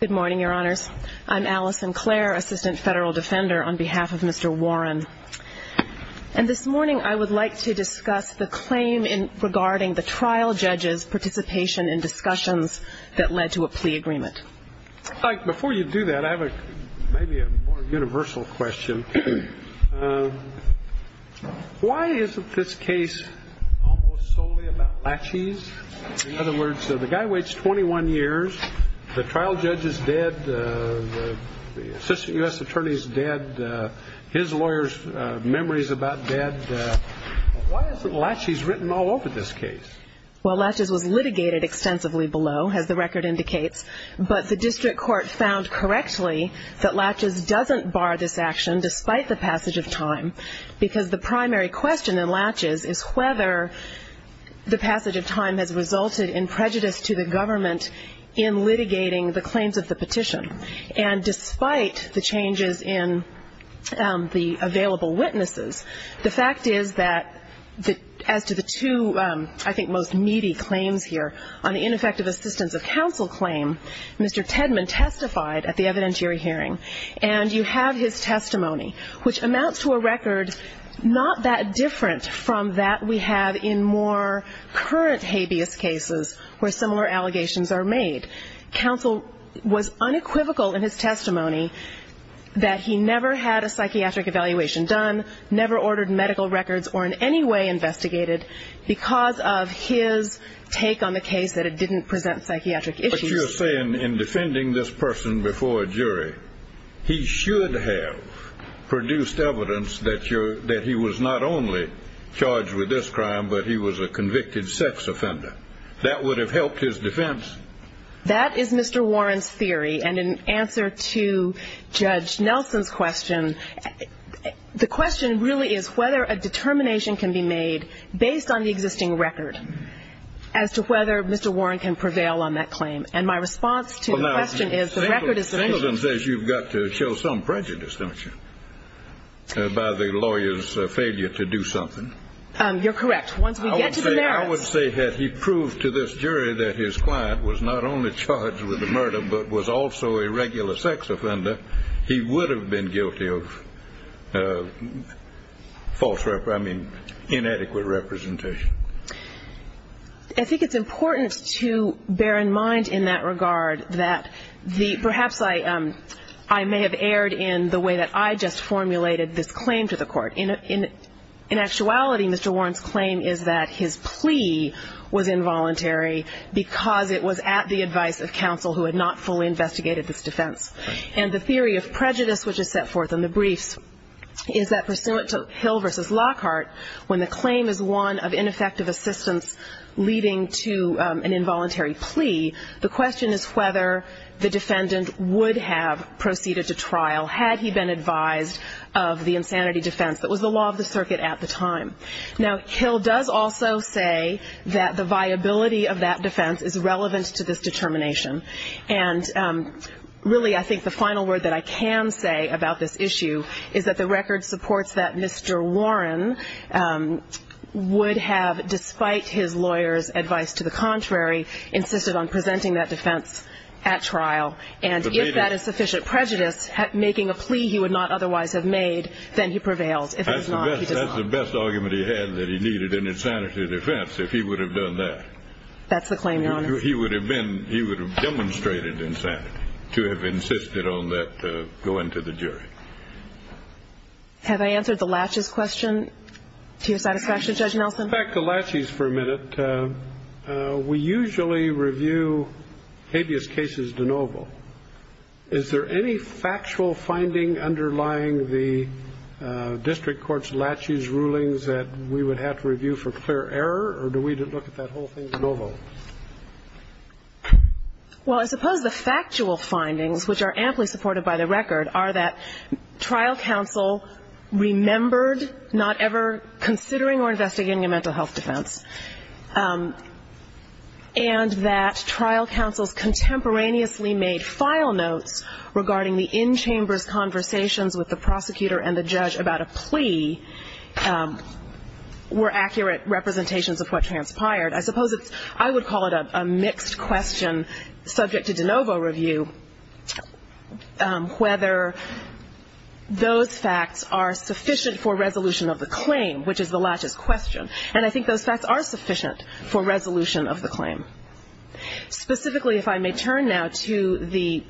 Good morning, Your Honors. I'm Allison Clare, Assistant Federal Defender, on behalf of Mr. Warren. And this morning I would like to discuss the claim regarding the trial judge's participation in discussions that led to a plea agreement. Before you do that, I have maybe a more universal question. Why isn't this case almost solely about Latches? In other words, the guy waits 21 years, the trial judge is dead, the Assistant U.S. Attorney is dead, his lawyer's memory is about dead. Why isn't Latches written all over this case? Well, Latches was litigated extensively below, as the record indicates, but the district court found correctly that Latches doesn't bar this action despite the passage of time, because the primary question in Latches is whether the passage of time has resulted in prejudice to the government in litigating the claims of the petition. And despite the changes in the available witnesses, the fact is that as to the two, I think, most needy claims here, on the ineffective assistance of counsel claim, Mr. Tedman testified at the evidentiary hearing, and you have his testimony, which amounts to a record not that different from that we have in more current habeas cases where similar allegations are made. Counsel was unequivocal in his testimony that he never had a psychiatric evaluation done, never ordered medical records or in any way investigated because of his take on the case that it didn't present psychiatric issues. But you're saying in defending this person before a jury, he should have produced evidence that he was not only charged with this crime, but he was a convicted sex offender. That would have helped his defense? That is Mr. Warren's theory. And in answer to Judge Nelson's question, the question really is whether a determination can be made based on the existing record as to whether Mr. Warren can prevail on that claim. And my response to the question is, the record is sufficient. Well, now, Singleton says you've got to show some prejudice, don't you, by the lawyer's failure to do something. You're correct. Once we get to the merits. I would say had he proved to this jury that his client was not only charged with the murder, but was also a regular sex offender, he would have been guilty of false, I mean, inadequate representation. I think it's important to bear in mind in that regard that perhaps I may have erred in the way that I just formulated this claim to the court. In actuality, Mr. Warren's claim is that his plea was involuntary because it was at the advice of counsel who had not fully investigated this defense. And the theory of prejudice which is set forth in the briefs is that pursuant to Hill v. Lockhart, when the claim is one of ineffective assistance leading to an involuntary plea, the question is whether the defendant would have proceeded to trial had he been advised of the insanity defense that was the law of the circuit at the time. Now, Hill does also say that the viability of that defense is relevant to this determination. And really, I think the final word that I can say about this issue is that the record supports that Mr. Warren would have, despite his lawyer's advice to the contrary, insisted on presenting that defense at trial. And if that is sufficient prejudice, making a plea he would not otherwise have made, then he prevails. If it is not, he does not. That's the best argument he had, that he needed an insanity defense if he would have done that. That's the claim, Your Honor. He would have been, he would have demonstrated insanity to have insisted on that going to the jury. Have I answered the laches question to your satisfaction, Judge Nelson? Back to laches for a minute. We usually review habeas cases de novo. Is there any factual finding underlying the district court's laches rulings that we would have to review for clear error, or do we look at that whole thing de novo? Well, I suppose the factual findings, which are amply supported by the record, are that trial counsel remembered not ever considering or investigating a mental health defense. And that trial counsels contemporaneously made file notes regarding the in-chambers conversations with the prosecutor and the judge about a plea were accurate representations of what transpired. I suppose it's, I would call it a mixed question subject to de novo review whether those facts are sufficient for resolution of the claim, which is the laches question. And I think those facts are sufficient for resolution of the claim. Specifically, if I may turn now to the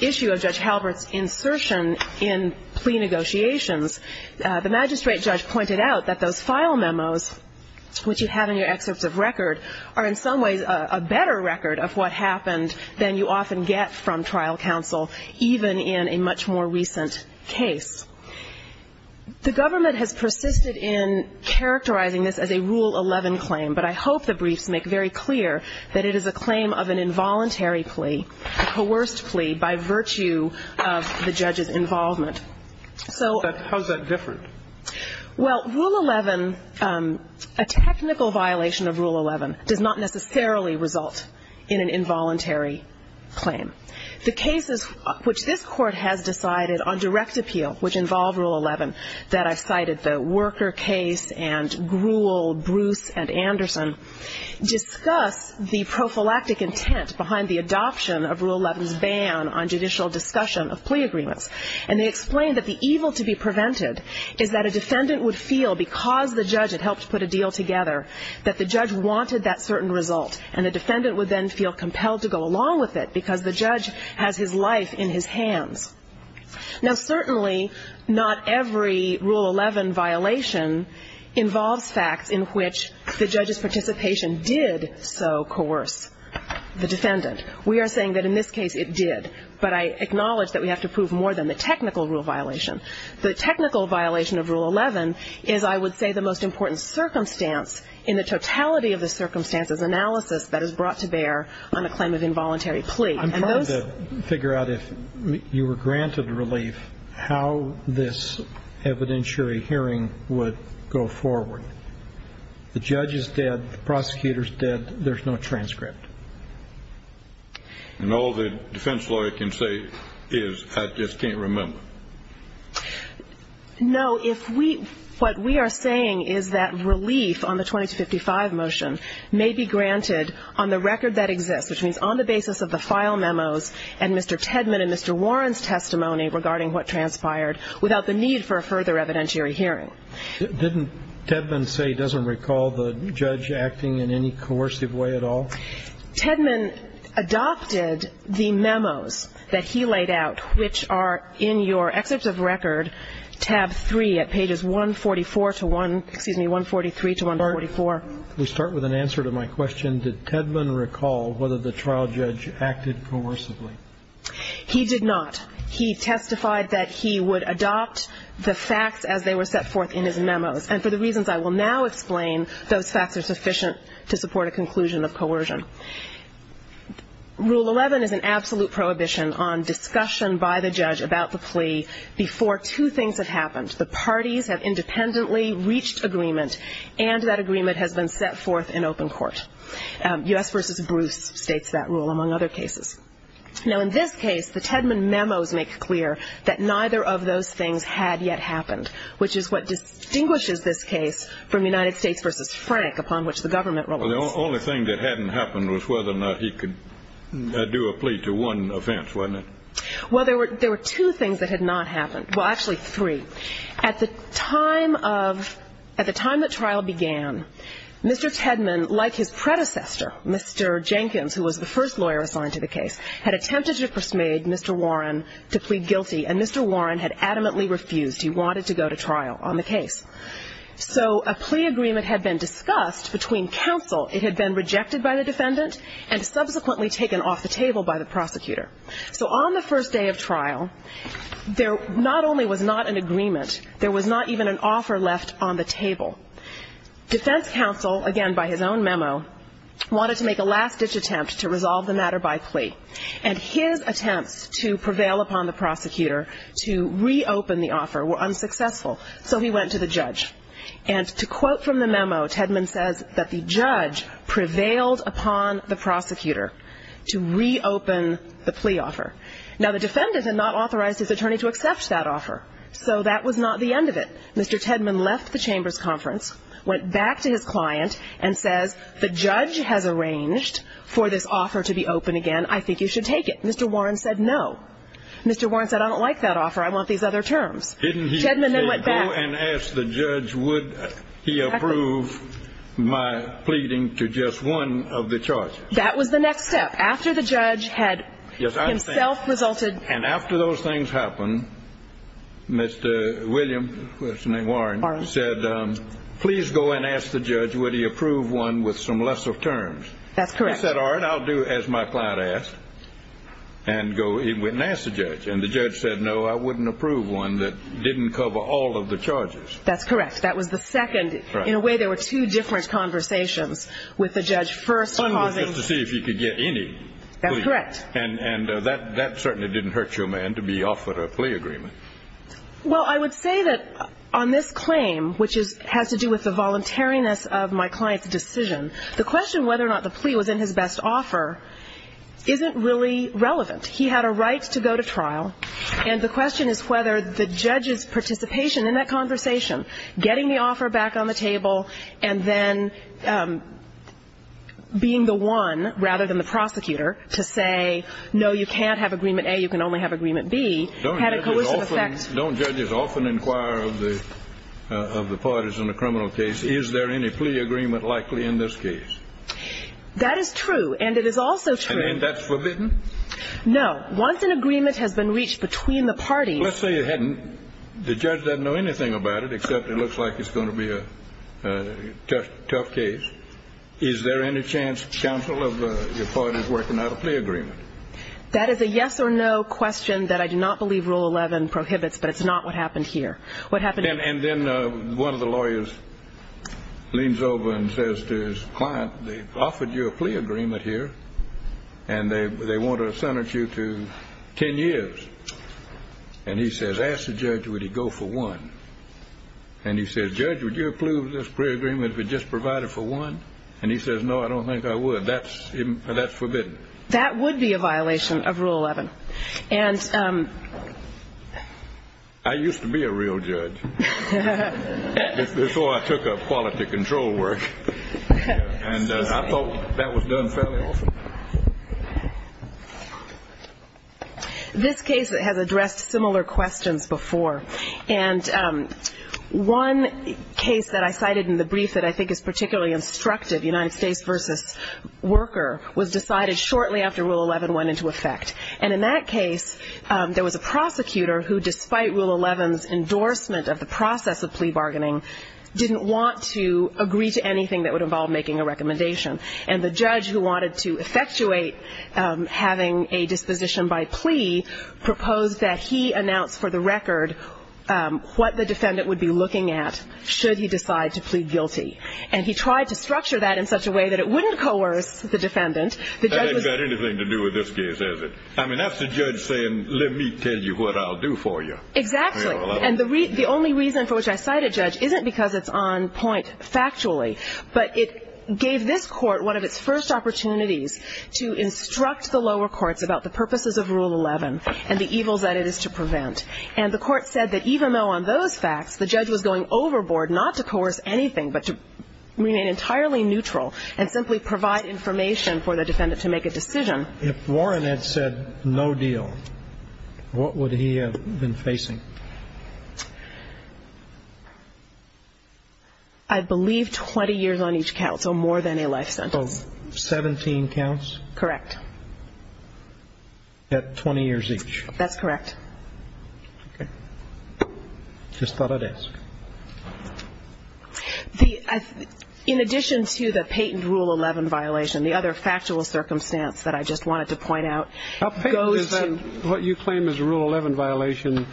issue of Judge Halbert's insertion in plea negotiations. The magistrate judge pointed out that those file memos, which you have in your excerpts of record, are in some ways a better record of what happened than you often get from trial counsel, even in a much more recent case. The government has persisted in characterizing this as a Rule 11 claim, but I hope the briefs make very clear that it is a claim of an involuntary plea, a coerced plea, by virtue of the judge's involvement. How is that different? Well, Rule 11, a technical violation of Rule 11, does not necessarily result in an involuntary claim. The cases which this Court has decided on direct appeal, which involve Rule 11, that I've cited, the Worker case and Gruel, Bruce, and Anderson, discuss the prophylactic intent behind the adoption of Rule 11's ban on judicial discussion of plea agreements. And they explain that the evil to be prevented is that a defendant would feel, because the judge had helped put a deal together, that the judge wanted that certain result. And the defendant would then feel compelled to go along with it, because the judge has his life in his hands. Now, certainly, not every Rule 11 violation involves facts in which the judge's participation did so coerce the defendant. We are saying that in this case, it did. But I acknowledge that we have to prove more than the technical rule violation. The technical violation of Rule 11 is, I would say, the most important circumstance in the totality of the circumstances analysis that is brought to bear on a claim of involuntary plea. And those... I'm trying to figure out, if you were granted relief, how this evidentiary hearing would go forward. The judge is dead. The prosecutor is dead. There's no transcript. And all the defense lawyer can say is, I just can't remember. No. If we... What we are saying is that relief on the 2255 motion may be granted on the record that exists, which means on the basis of the file memos and Mr. Tedman and Mr. Warren's testimony regarding what transpired, without the need for a further evidentiary hearing. Didn't Tedman say he doesn't recall the judge acting in any coercive way at all? Tedman adopted the memos that he laid out, which are in your excerpts of record, tab 3 at pages 144 to 1... Excuse me, 143 to 144. We start with an answer to my question. Did Tedman recall whether the trial judge acted coercively? He did not. He testified that he would adopt the facts as they were set forth in his memos. And for the reasons I will now explain, those facts are sufficient to support a conclusion of coercion. Rule 11 is an absolute prohibition on discussion by the judge about the plea before two things have happened. The parties have independently reached agreement, and that agreement has been set forth in open court. U.S. v. Bruce states that rule, among other cases. Now, in this case, the Tedman memos make clear that neither of those things had yet happened, which is what distinguishes this case from United States v. Frank, upon which the government relies. Well, the only thing that hadn't happened was whether or not he could do a plea to one offense, wasn't it? Well, there were two things that had not happened. Well, actually three. At the time of the trial began, Mr. Tedman, like his predecessor, Mr. Jenkins, who was the first lawyer assigned to the case, had attempted to persuade Mr. Warren to plead guilty, and Mr. Warren had adamantly refused. He wanted to go to trial on the case. So a plea agreement had been discussed between counsel. It had been rejected by the defendant and subsequently taken off the table by the prosecutor. So on the first day of trial, there not only was not an agreement, there was not even an offer left on the table. Defense counsel, again by his own memo, wanted to make a last-ditch attempt to resolve the matter by plea, and his attempts to prevail upon the prosecutor to reopen the offer were unsuccessful. So he went to the judge, and to quote from the memo, Tedman says that the judge prevailed upon the prosecutor to reopen the plea offer. Now, the defendant had not authorized his attorney to accept that offer, so that was not the end of it. Mr. Tedman left the Chambers Conference, went back to his client, and says, the judge has arranged for this offer to be open again. I think you should take it. Mr. Warren said no. Mr. Warren said, I don't like that offer. I want these other terms. Didn't he go and ask the judge, would he approve my pleading to just one of the charges? That was the next step. After the judge had himself resulted. And after those things happened, Mr. William, what's his name, Warren, said, please go and ask the judge, would he approve one with some lesser terms? That's correct. He said, all right, I'll do as my client asked and go and ask the judge. And the judge said, no, I wouldn't approve one that didn't cover all of the charges. That's correct. That was the second. In a way, there were two different conversations with the judge first causing. Just to see if he could get any. That's correct. And that certainly didn't hurt your man to be offered a plea agreement. Well, I would say that on this claim, which has to do with the voluntariness of my client's decision, the question whether or not the plea was in his best offer isn't really relevant. He had a right to go to trial. And the question is whether the judge's participation in that conversation, getting the offer back on the table and then being the one rather than the prosecutor to say, no, you can't have agreement A, you can only have agreement B, had a coercive effect. Don't judges often inquire of the parties in a criminal case, is there any plea agreement likely in this case? That is true. And it is also true. And isn't that forbidden? No. Once an agreement has been reached between the parties. Let's say the judge doesn't know anything about it except it looks like it's going to be a tough case. Is there any chance, counsel, of your parties working out a plea agreement? That is a yes or no question that I do not believe Rule 11 prohibits, but it's not what happened here. And then one of the lawyers leans over and says to his client, they've offered you a plea agreement here and they want to sentence you to ten years. And he says, ask the judge, would he go for one? And he says, judge, would you approve this plea agreement if we just provide it for one? And he says, no, I don't think I would. That's forbidden. That would be a violation of Rule 11. I used to be a real judge before I took up quality control work. And I thought that was done fairly often. This case has addressed similar questions before. And one case that I cited in the brief that I think is particularly instructive, United States v. Worker, was decided shortly after Rule 11 went into effect. And in that case, there was a prosecutor who, despite Rule 11's endorsement of the process of plea bargaining, didn't want to agree to anything that would involve making a recommendation. And the judge who wanted to effectuate having a disposition by plea proposed that he announce, for the record, what the defendant would be looking at should he decide to plead guilty. And he tried to structure that in such a way that it wouldn't coerce the defendant. It hasn't got anything to do with this case, has it? I mean, that's the judge saying, let me tell you what I'll do for you. Exactly. And the only reason for which I cite a judge isn't because it's on point factually, but it gave this court one of its first opportunities to instruct the lower courts about the purposes of Rule 11 and the evils that it is to prevent. And the court said that even though on those facts the judge was going overboard not to coerce anything but to remain entirely neutral and simply provide information for the defendant to make a decision. If Warren had said no deal, what would he have been facing? I believe 20 years on each count, so more than a life sentence. So 17 counts? Correct. At 20 years each? That's correct. Okay. Just thought I'd ask. In addition to the patent Rule 11 violation, the other factual circumstance that I just wanted to point out goes to... What you claim is a Rule 11 violation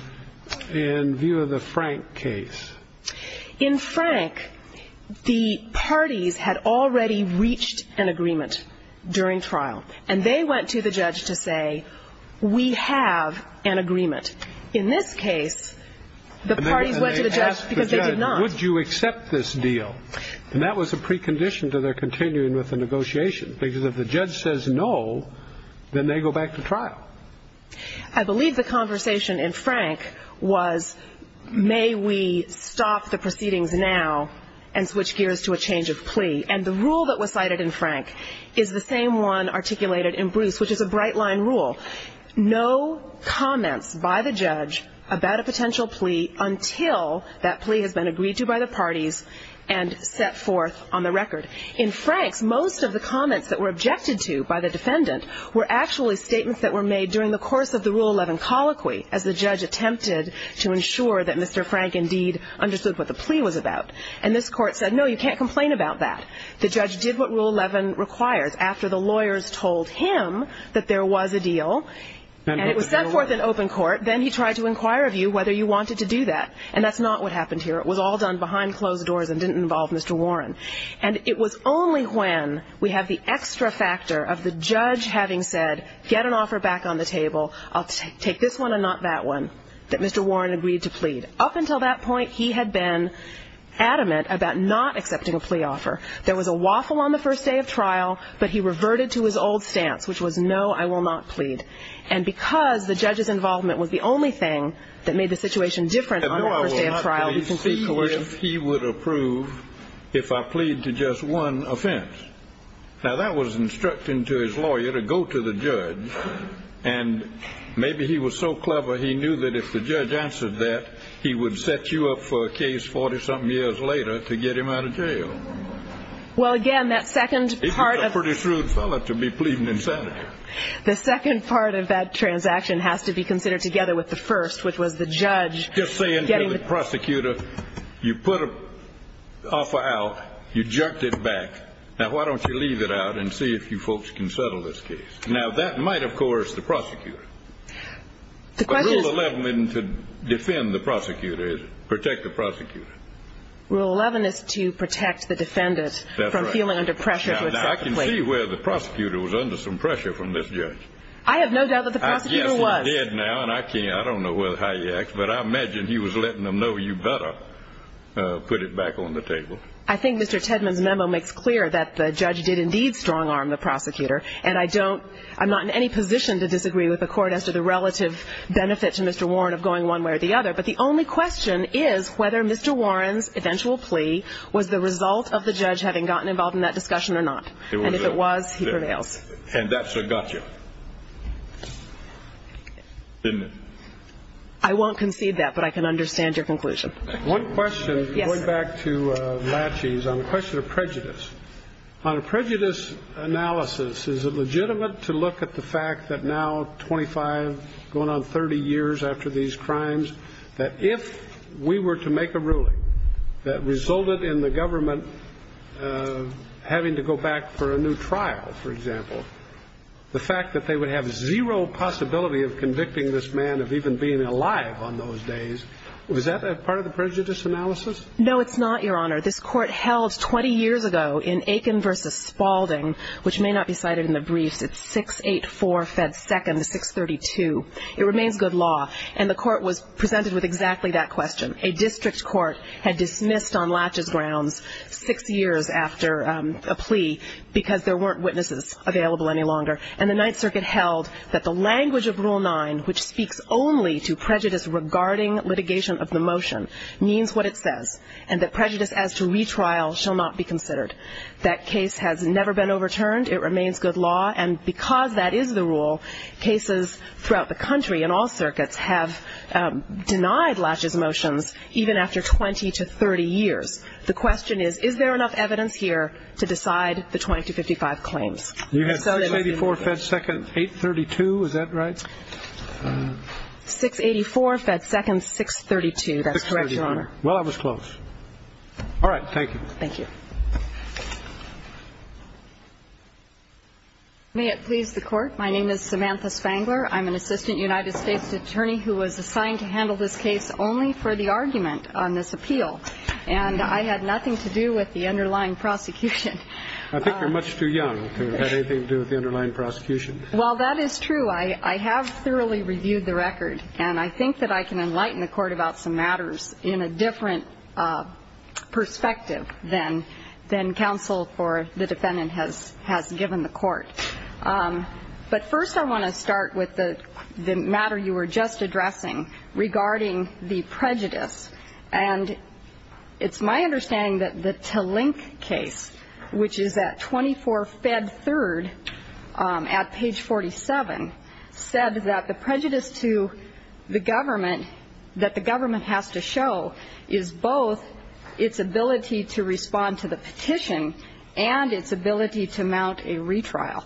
in view of the Frank case. In Frank, the parties had already reached an agreement during trial, and they went to the judge to say, we have an agreement. In this case, the parties went to the judge because they did not. Would you accept this deal? And that was a precondition to their continuing with the negotiation, because if the judge says no, then they go back to trial. I believe the conversation in Frank was, may we stop the proceedings now and switch gears to a change of plea. And the rule that was cited in Frank is the same one articulated in Bruce, which is a bright-line rule. No comments by the judge about a potential plea until that plea has been agreed to by the parties and set forth on the record. In Frank's, most of the comments that were objected to by the defendant were actually statements that were made during the course of the Rule 11 colloquy as the judge attempted to ensure that Mr. Frank indeed understood what the plea was about. And this court said, no, you can't complain about that. The judge did what Rule 11 requires. After the lawyers told him that there was a deal, and it was set forth in open court, then he tried to inquire of you whether you wanted to do that. And that's not what happened here. It was all done behind closed doors and didn't involve Mr. Warren. And it was only when we have the extra factor of the judge having said, get an offer back on the table, I'll take this one and not that one, that Mr. Warren agreed to plead. Up until that point, he had been adamant about not accepting a plea offer. There was a waffle on the first day of trial, but he reverted to his old stance, which was, no, I will not plead. And because the judge's involvement was the only thing that made the situation different on the first day of trial, we can see coercion. No, I will not plead if he would approve if I plead to just one offense. Now, that was instructing to his lawyer to go to the judge, and maybe he was so clever he knew that if the judge answered that, he would set you up for a case 40-something years later to get him out of jail. Well, again, that second part of that transaction has to be considered together with the first, which was the judge. Just saying to the prosecutor, you put an offer out. You jerked it back. Now, why don't you leave it out and see if you folks can settle this case? Now, that might, of course, the prosecutor. Rule 11 isn't to defend the prosecutor, is it, protect the prosecutor? Rule 11 is to protect the defendant from feeling under pressure. Now, I can see where the prosecutor was under some pressure from this judge. I have no doubt that the prosecutor was. Yes, he did now, and I don't know how he acts, but I imagine he was letting them know, you better put it back on the table. I think Mr. Tedman's memo makes clear that the judge did indeed strong-arm the prosecutor, and I'm not in any position to disagree with the court as to the relative benefit to Mr. Warren of going one way or the other, but the only question is whether Mr. Warren's eventual plea was the result of the judge having gotten involved in that discussion or not. And if it was, he prevails. And that's a gotcha, isn't it? I won't concede that, but I can understand your conclusion. One question, going back to Latchey's, on the question of prejudice. On a prejudice analysis, is it legitimate to look at the fact that now, 25, going on 30 years after these crimes, that if we were to make a ruling that resulted in the government having to go back for a new trial, for example, the fact that they would have zero possibility of convicting this man of even being alive on those days, was that a part of the prejudice analysis? No, it's not, Your Honor. This Court held 20 years ago in Aiken v. Spalding, which may not be cited in the briefs. It's 684 Fed 2nd, 632. It remains good law. And the Court was presented with exactly that question. A district court had dismissed on Latchey's grounds six years after a plea because there weren't witnesses available any longer. And the Ninth Circuit held that the language of Rule 9, which speaks only to prejudice regarding litigation of the motion, means what it says, and that prejudice as to retrial shall not be considered. That case has never been overturned. It remains good law. And because that is the rule, cases throughout the country in all circuits have denied Latchey's motions, even after 20 to 30 years. The question is, is there enough evidence here to decide the 2255 claims? You had 684 Fed 2nd, 832. Is that right? 684 Fed 2nd, 632. That's correct, Your Honor. Well, I was close. All right. Thank you. Thank you. May it please the Court. My name is Samantha Spangler. I'm an assistant United States attorney who was assigned to handle this case only for the argument on this appeal. And I had nothing to do with the underlying prosecution. I think you're much too young to have anything to do with the underlying prosecution. Well, that is true. I have thoroughly reviewed the record. And I think that I can enlighten the Court about some matters in a different perspective than counsel or the defendant has given the Court. But first I want to start with the matter you were just addressing regarding the prejudice. And it's my understanding that the Talink case, which is at 24 Fed 3rd at page 47, said that the prejudice to the government, that the government has to show, is both its ability to respond to the petition and its ability to mount a retrial.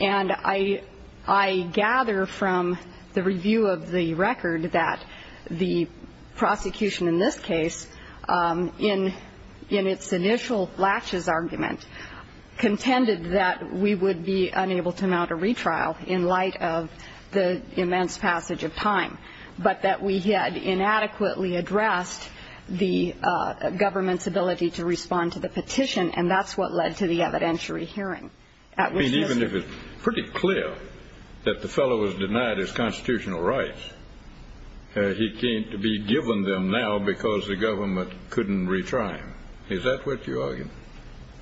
And I gather from the review of the record that the prosecution in this case, in its initial laches argument, contended that we would be unable to mount a retrial in light of the immense passage of time, but that we had inadequately addressed the government's ability to respond to the petition, and that's what led to the evidentiary hearing. Even if it's pretty clear that the fellow was denied his constitutional rights, he can't be given them now because the government couldn't retry him. Is that what you argue?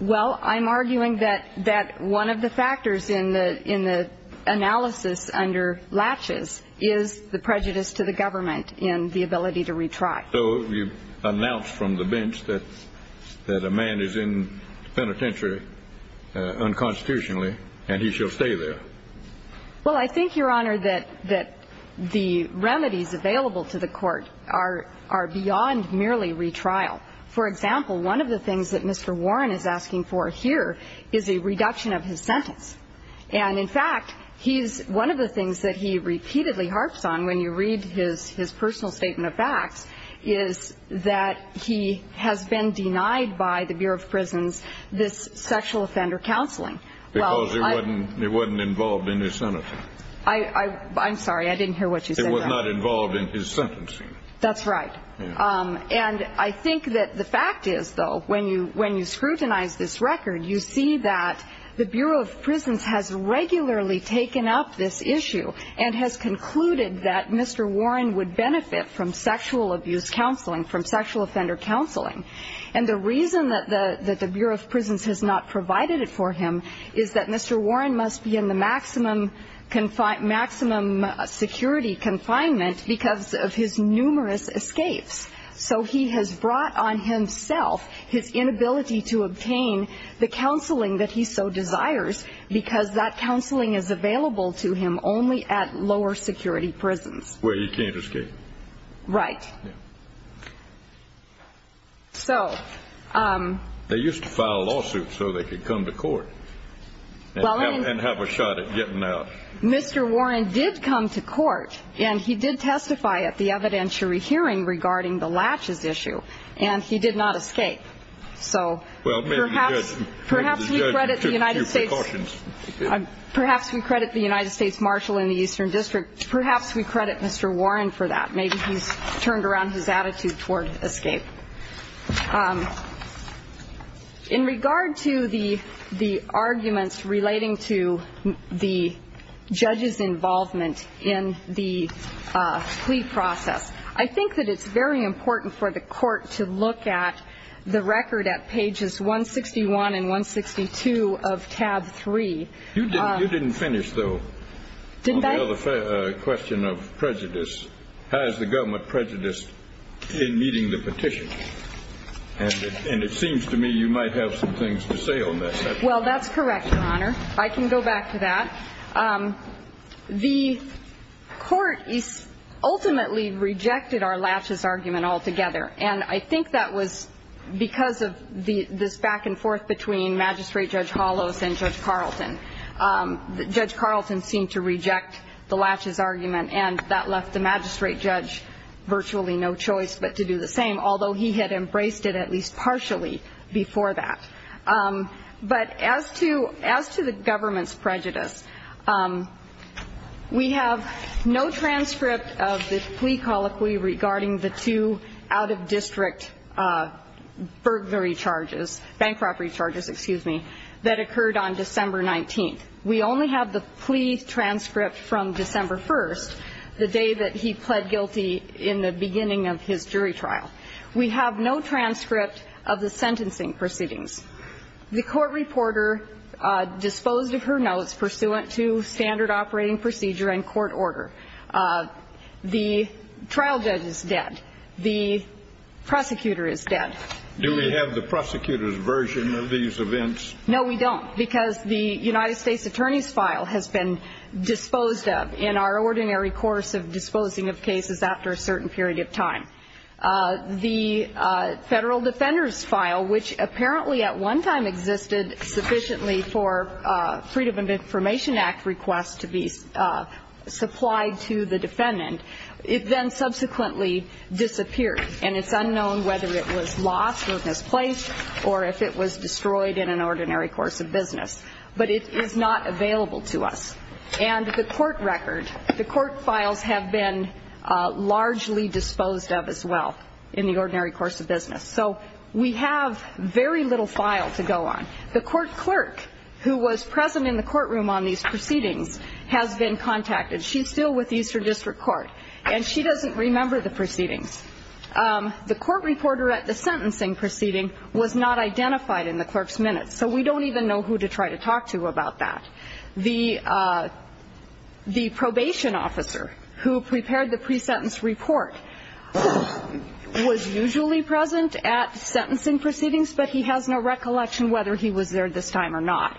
Well, I'm arguing that one of the factors in the analysis under laches is the prejudice to the government in the ability to retry. So you announce from the bench that a man is in the penitentiary unconstitutionally and he shall stay there. Well, I think, Your Honor, that the remedies available to the Court are beyond merely retrial. For example, one of the things that Mr. Warren is asking for here is a reduction of his sentence. And, in fact, one of the things that he repeatedly harps on when you read his personal statement of facts is that he has been denied by the Bureau of Prisons this sexual offender counseling. Because it wasn't involved in his sentencing. I'm sorry, I didn't hear what you said there. It was not involved in his sentencing. That's right. And I think that the fact is, though, when you scrutinize this record, you see that the Bureau of Prisons has regularly taken up this issue and has concluded that Mr. Warren would benefit from sexual abuse counseling, from sexual offender counseling. And the reason that the Bureau of Prisons has not provided it for him is that Mr. Warren must be in the maximum security confinement because of his numerous escapes. So he has brought on himself his inability to obtain the counseling that he so desires because that counseling is available to him only at lower security prisons. Where he can't escape. Right. Yeah. So. They used to file lawsuits so they could come to court and have a shot at getting out. Mr. Warren did come to court, and he did testify at the evidentiary hearing regarding the latches issue, and he did not escape. So perhaps we credit the United States. Perhaps we credit the United States Marshal in the Eastern District. Perhaps we credit Mr. Warren for that. Maybe he's turned around his attitude toward escape. In regard to the arguments relating to the judge's involvement in the plea process, I think that it's very important for the court to look at the record at pages 161 and 162 of tab 3. You didn't finish, though. Didn't I? The question of prejudice. Has the government prejudiced in meeting the petition? And it seems to me you might have some things to say on this. Well, that's correct, Your Honor. I can go back to that. The court ultimately rejected our latches argument altogether, and I think that was because of this back and forth between Magistrate Judge Hollos and Judge Carlton. Judge Carlton seemed to reject the latches argument, and that left the Magistrate Judge virtually no choice but to do the same, although he had embraced it at least partially before that. But as to the government's prejudice, we have no transcript of the plea colloquy regarding the two out-of-district burglary charges, bank robbery charges, excuse me, that occurred on December 19th. We only have the plea transcript from December 1st, the day that he pled guilty in the beginning of his jury trial. We have no transcript of the sentencing proceedings. The court reporter disposed of her notes pursuant to standard operating procedure and court order. The trial judge is dead. The prosecutor is dead. Do we have the prosecutor's version of these events? No, we don't, because the United States Attorney's file has been disposed of in our ordinary course of disposing of cases after a certain period of time. The Federal Defender's file, which apparently at one time existed sufficiently for Freedom of Information Act requests to be supplied to the defendant, it then subsequently disappeared. And it's unknown whether it was lost or misplaced or if it was destroyed in an ordinary course of business. But it is not available to us. And the court record, the court files have been largely disposed of as well in the ordinary course of business. So we have very little file to go on. The court clerk who was present in the courtroom on these proceedings has been contacted. She's still with Eastern District Court, and she doesn't remember the proceedings. The court reporter at the sentencing proceeding was not identified in the clerk's minutes, so we don't even know who to try to talk to about that. The probation officer who prepared the pre-sentence report was usually present at sentencing proceedings, but he has no recollection whether he was there this time or not.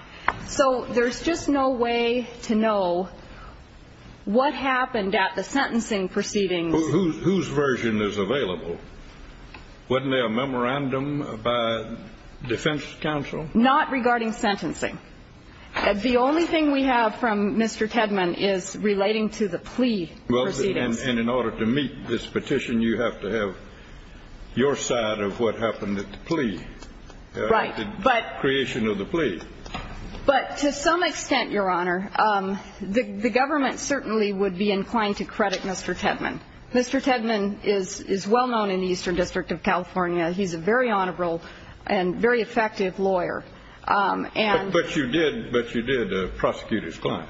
So there's just no way to know what happened at the sentencing proceedings. Whose version is available? Wasn't there a memorandum by defense counsel? Not regarding sentencing. The only thing we have from Mr. Tedman is relating to the plea proceedings. Well, and in order to meet this petition, you have to have your side of what happened at the plea. Right. The creation of the plea. But to some extent, Your Honor, the government certainly would be inclined to credit Mr. Tedman. Mr. Tedman is well known in the Eastern District of California. He's a very honorable and very effective lawyer. But you did prosecute his client.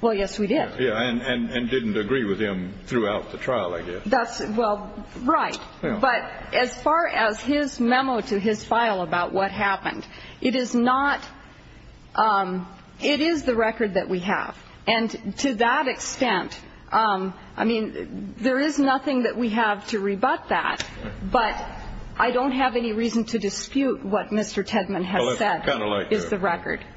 Well, yes, we did. Yeah, and didn't agree with him throughout the trial, I guess. Well, right. But as far as his memo to his file about what happened, it is not the record that we have. And to that extent, I mean, there is nothing that we have to rebut that. But I don't have any reason to dispute what Mr. Tedman has said is the record. Well, it's kind of like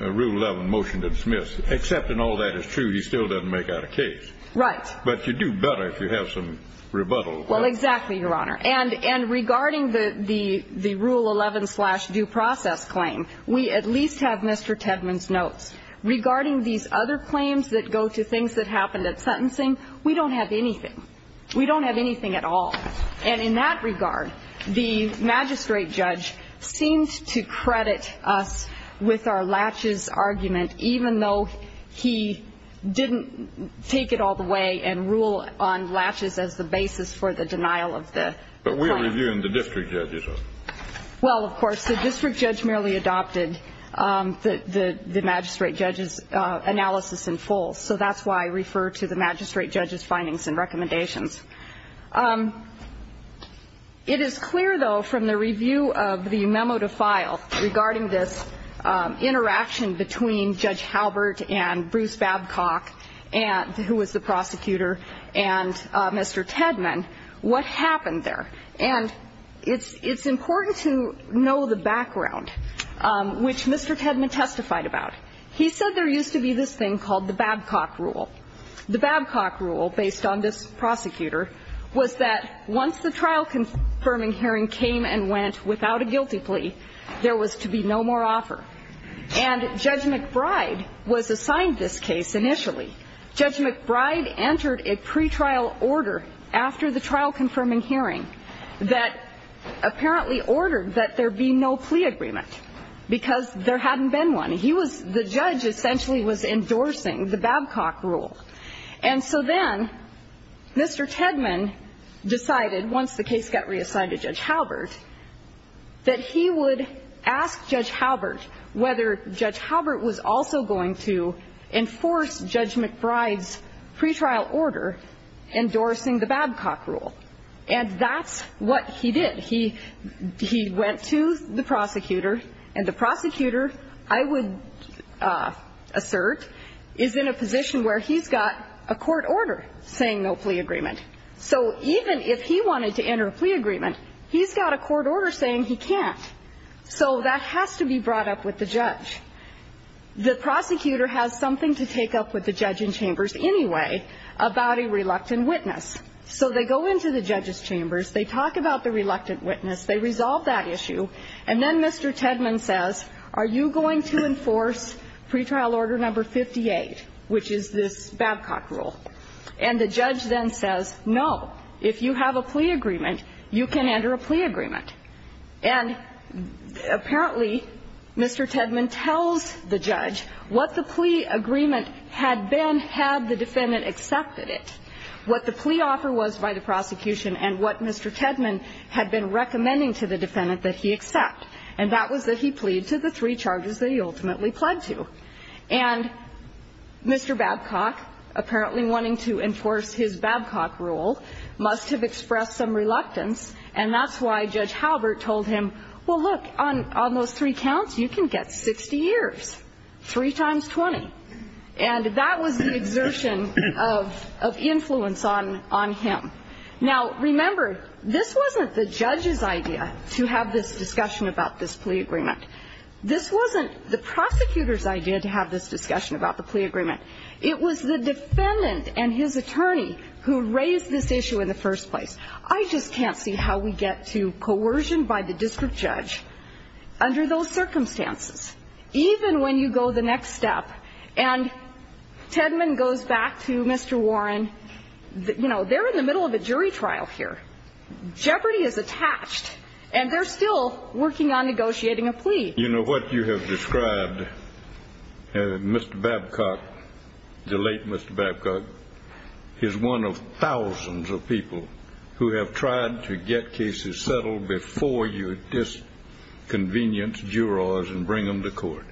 a Rule 11 motion to dismiss. Except in all that is true, he still doesn't make out a case. Right. But you do better if you have some rebuttal. Well, exactly, Your Honor. And regarding the Rule 11 slash due process claim, we at least have Mr. Tedman's notes. Regarding these other claims that go to things that happened at sentencing, we don't have anything. We don't have anything at all. And in that regard, the magistrate judge seems to credit us with our latches argument, even though he didn't take it all the way and rule on latches as the basis for the denial of the claim. But we're reviewing the district judge's. Well, of course, the district judge merely adopted the magistrate judge's analysis in full. So that's why I refer to the magistrate judge's findings and recommendations. It is clear, though, from the review of the memo to file regarding this interaction between Judge Halbert and Bruce Babcock, who was the prosecutor, and Mr. Tedman, what happened there. And it's important to know the background, which Mr. Tedman testified about. He said there used to be this thing called the Babcock Rule. The Babcock Rule, based on this prosecutor, was that once the trial confirming hearing came and went without a guilty plea, there was to be no more offer. And Judge McBride was assigned this case initially. Judge McBride entered a pretrial order after the trial confirming hearing that apparently ordered that there be no plea agreement, because there hadn't been one. He was the judge essentially was endorsing the Babcock Rule. And so then Mr. Tedman decided, once the case got reassigned to Judge Halbert, that he would ask Judge Halbert whether Judge Halbert was also going to enforce Judge McBride's pretrial order endorsing the Babcock Rule. And that's what he did. He went to the prosecutor. And the prosecutor, I would assert, is in a position where he's got a court order saying no plea agreement. So even if he wanted to enter a plea agreement, he's got a court order saying he can't. So that has to be brought up with the judge. The prosecutor has something to take up with the judge in chambers anyway about a reluctant witness. So they go into the judge's chambers. They talk about the reluctant witness. They resolve that issue. And then Mr. Tedman says, are you going to enforce pretrial order number 58, which is this Babcock Rule? And the judge then says, no, if you have a plea agreement, you can enter a plea agreement. And apparently, Mr. Tedman tells the judge what the plea agreement had been had the defendant accepted it, what the plea offer was by the prosecution, and what Mr. Tedman had been recommending to the defendant that he accept. And that was that he plead to the three charges that he ultimately pled to. And Mr. Babcock, apparently wanting to enforce his Babcock Rule, must have expressed some reluctance, and that's why Judge Halbert told him, well, look, on those three counts, you can get 60 years, 3 times 20. And that was the exertion of influence on him. Now, remember, this wasn't the judge's idea to have this discussion about this plea agreement. This wasn't the prosecutor's idea to have this discussion about the plea agreement. It was the defendant and his attorney who raised this issue in the first place. I just can't see how we get to coercion by the district judge under those circumstances, even when you go the next step. And Tedman goes back to Mr. Warren. You know, they're in the middle of a jury trial here. Jeopardy is attached. And they're still working on negotiating a plea. You know, what you have described, Mr. Babcock, the late Mr. Babcock, is one of thousands of people who have tried to get cases settled before you disconvenience jurors and bring them to court.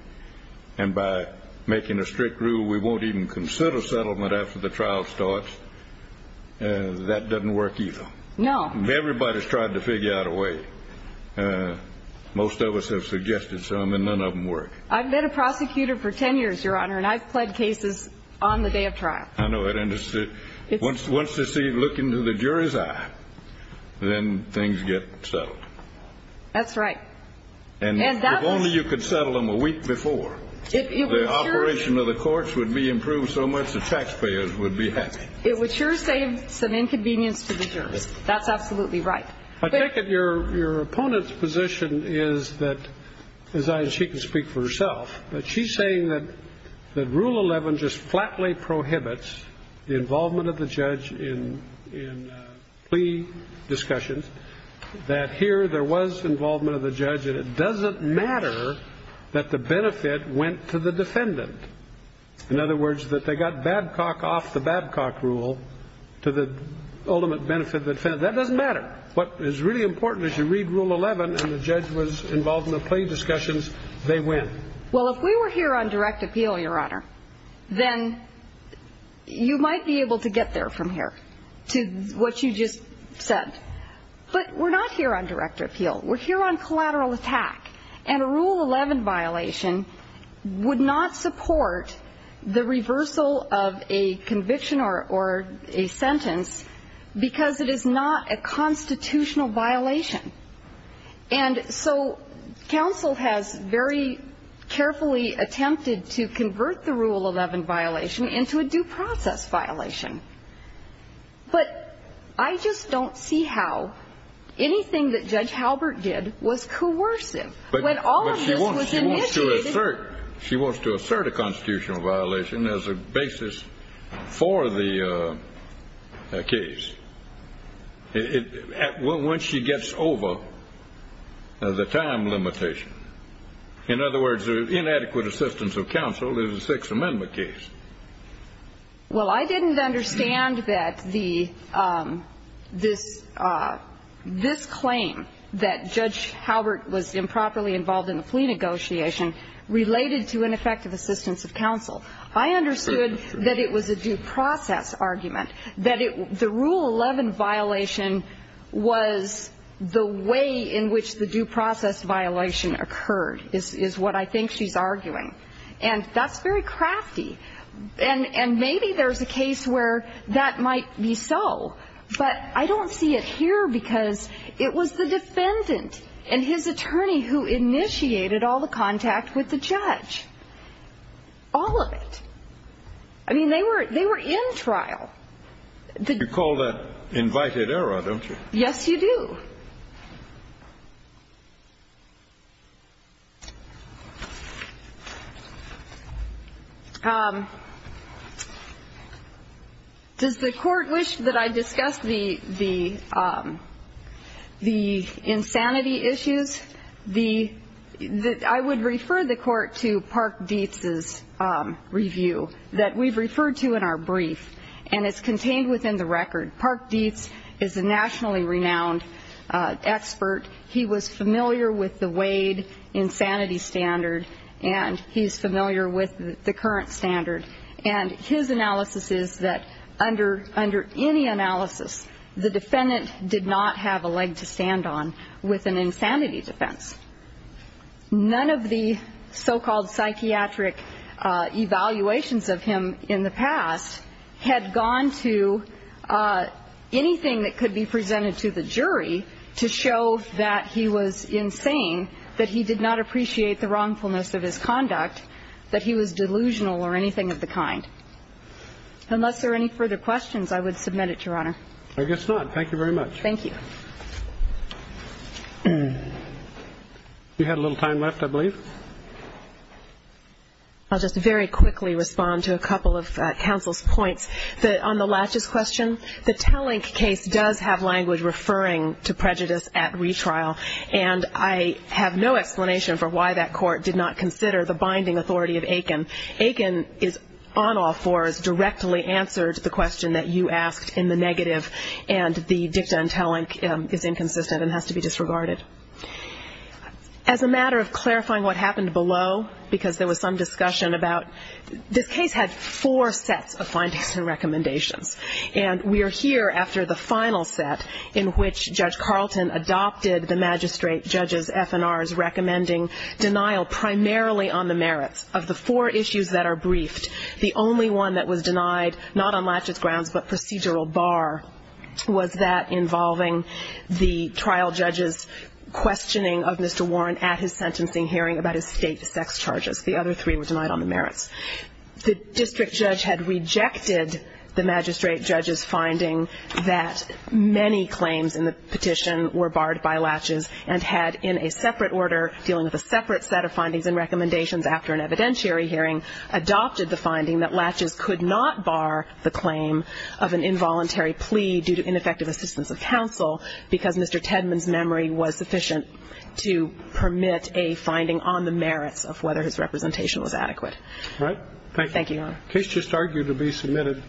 And by making a strict rule, we won't even consider settlement after the trial starts. That doesn't work either. No. Everybody's tried to figure out a way. Most of us have suggested some, and none of them work. I've been a prosecutor for 10 years, Your Honor, and I've pled cases on the day of trial. I know. And once they look into the jury's eye, then things get settled. That's right. And if only you could settle them a week before, the operation of the courts would be improved so much the taxpayers would be happy. It would sure save some inconvenience to the jurors. That's absolutely right. I take it your opponent's position is that, as I, she can speak for herself, that she's saying that Rule 11 just flatly prohibits the involvement of the judge in plea discussions, that here there was involvement of the judge, and it doesn't matter that the benefit went to the defendant. In other words, that they got Babcock off the Babcock rule to the ultimate benefit of the defendant. That doesn't matter. What is really important is you read Rule 11, and the judge was involved in the plea discussions. They win. Well, if we were here on direct appeal, Your Honor, then you might be able to get there from here to what you just said. But we're not here on direct appeal. We're here on collateral attack. And a Rule 11 violation would not support the reversal of a conviction or a sentence because it is not a constitutional violation. And so counsel has very carefully attempted to convert the Rule 11 violation into a due process violation. But I just don't see how anything that Judge Halbert did was coercive. When all of this was initiated... But she wants to assert a constitutional violation as a basis for the case. Once she gets over the time limitation. In other words, the inadequate assistance of counsel is a Sixth Amendment case. Well, I didn't understand that this claim that Judge Halbert was improperly involved in the plea negotiation related to ineffective assistance of counsel. I understood that it was a due process argument. That the Rule 11 violation was the way in which the due process violation occurred is what I think she's arguing. And that's very crafty. And maybe there's a case where that might be so. But I don't see it here because it was the defendant and his attorney who initiated all the contact with the judge. All of it. I mean, they were in trial. You call that invited error, don't you? Yes, you do. Does the Court wish that I discuss the insanity issues? I would refer the Court to Park Dietz's review that we've referred to in our brief. And it's contained within the record. Park Dietz is a nationally renowned expert. He was familiar with the Wade insanity standard. And he's familiar with the current standard. And his analysis is that under any analysis, the defendant did not have a leg to stand on with an insanity defense. None of the so-called psychiatric evaluations of him in the past had gone to anything that could be presented to the jury to show that he was insane, that he did not appreciate the wrongfulness of his conduct, that he was delusional or anything of the kind. Unless there are any further questions, I would submit it, Your Honor. I guess not. Thank you very much. Thank you. You had a little time left, I believe. I'll just very quickly respond to a couple of counsel's points. On the latches question, the Talink case does have language referring to prejudice at retrial. And I have no explanation for why that court did not consider the binding authority of Aiken. Aiken is on all fours, directly answered the question that you asked in the negative, and the dicta in Talink is inconsistent and has to be disregarded. As a matter of clarifying what happened below, because there was some discussion about this case had four sets of findings and recommendations. And we are here after the final set in which Judge Carlton adopted the magistrate judge's FNR's recommending denial primarily on the merits of the four issues that are briefed. The only one that was denied, not on latches grounds, but procedural bar, was that involving the trial judge's questioning of Mr. Warren at his sentencing hearing about his state sex charges. The other three were denied on the merits. The district judge had rejected the magistrate judge's finding that many claims in the petition were barred by latches and had in a separate order dealing with a separate set of findings and recommendations after an evidentiary hearing adopted the finding that latches could not bar the claim of an involuntary plea due to ineffective assistance of counsel because Mr. Tedman's memory was sufficient to permit a finding on the merits of whether his representation was adequate. All right. Thank you, Your Honor. The case just argued to be submitted.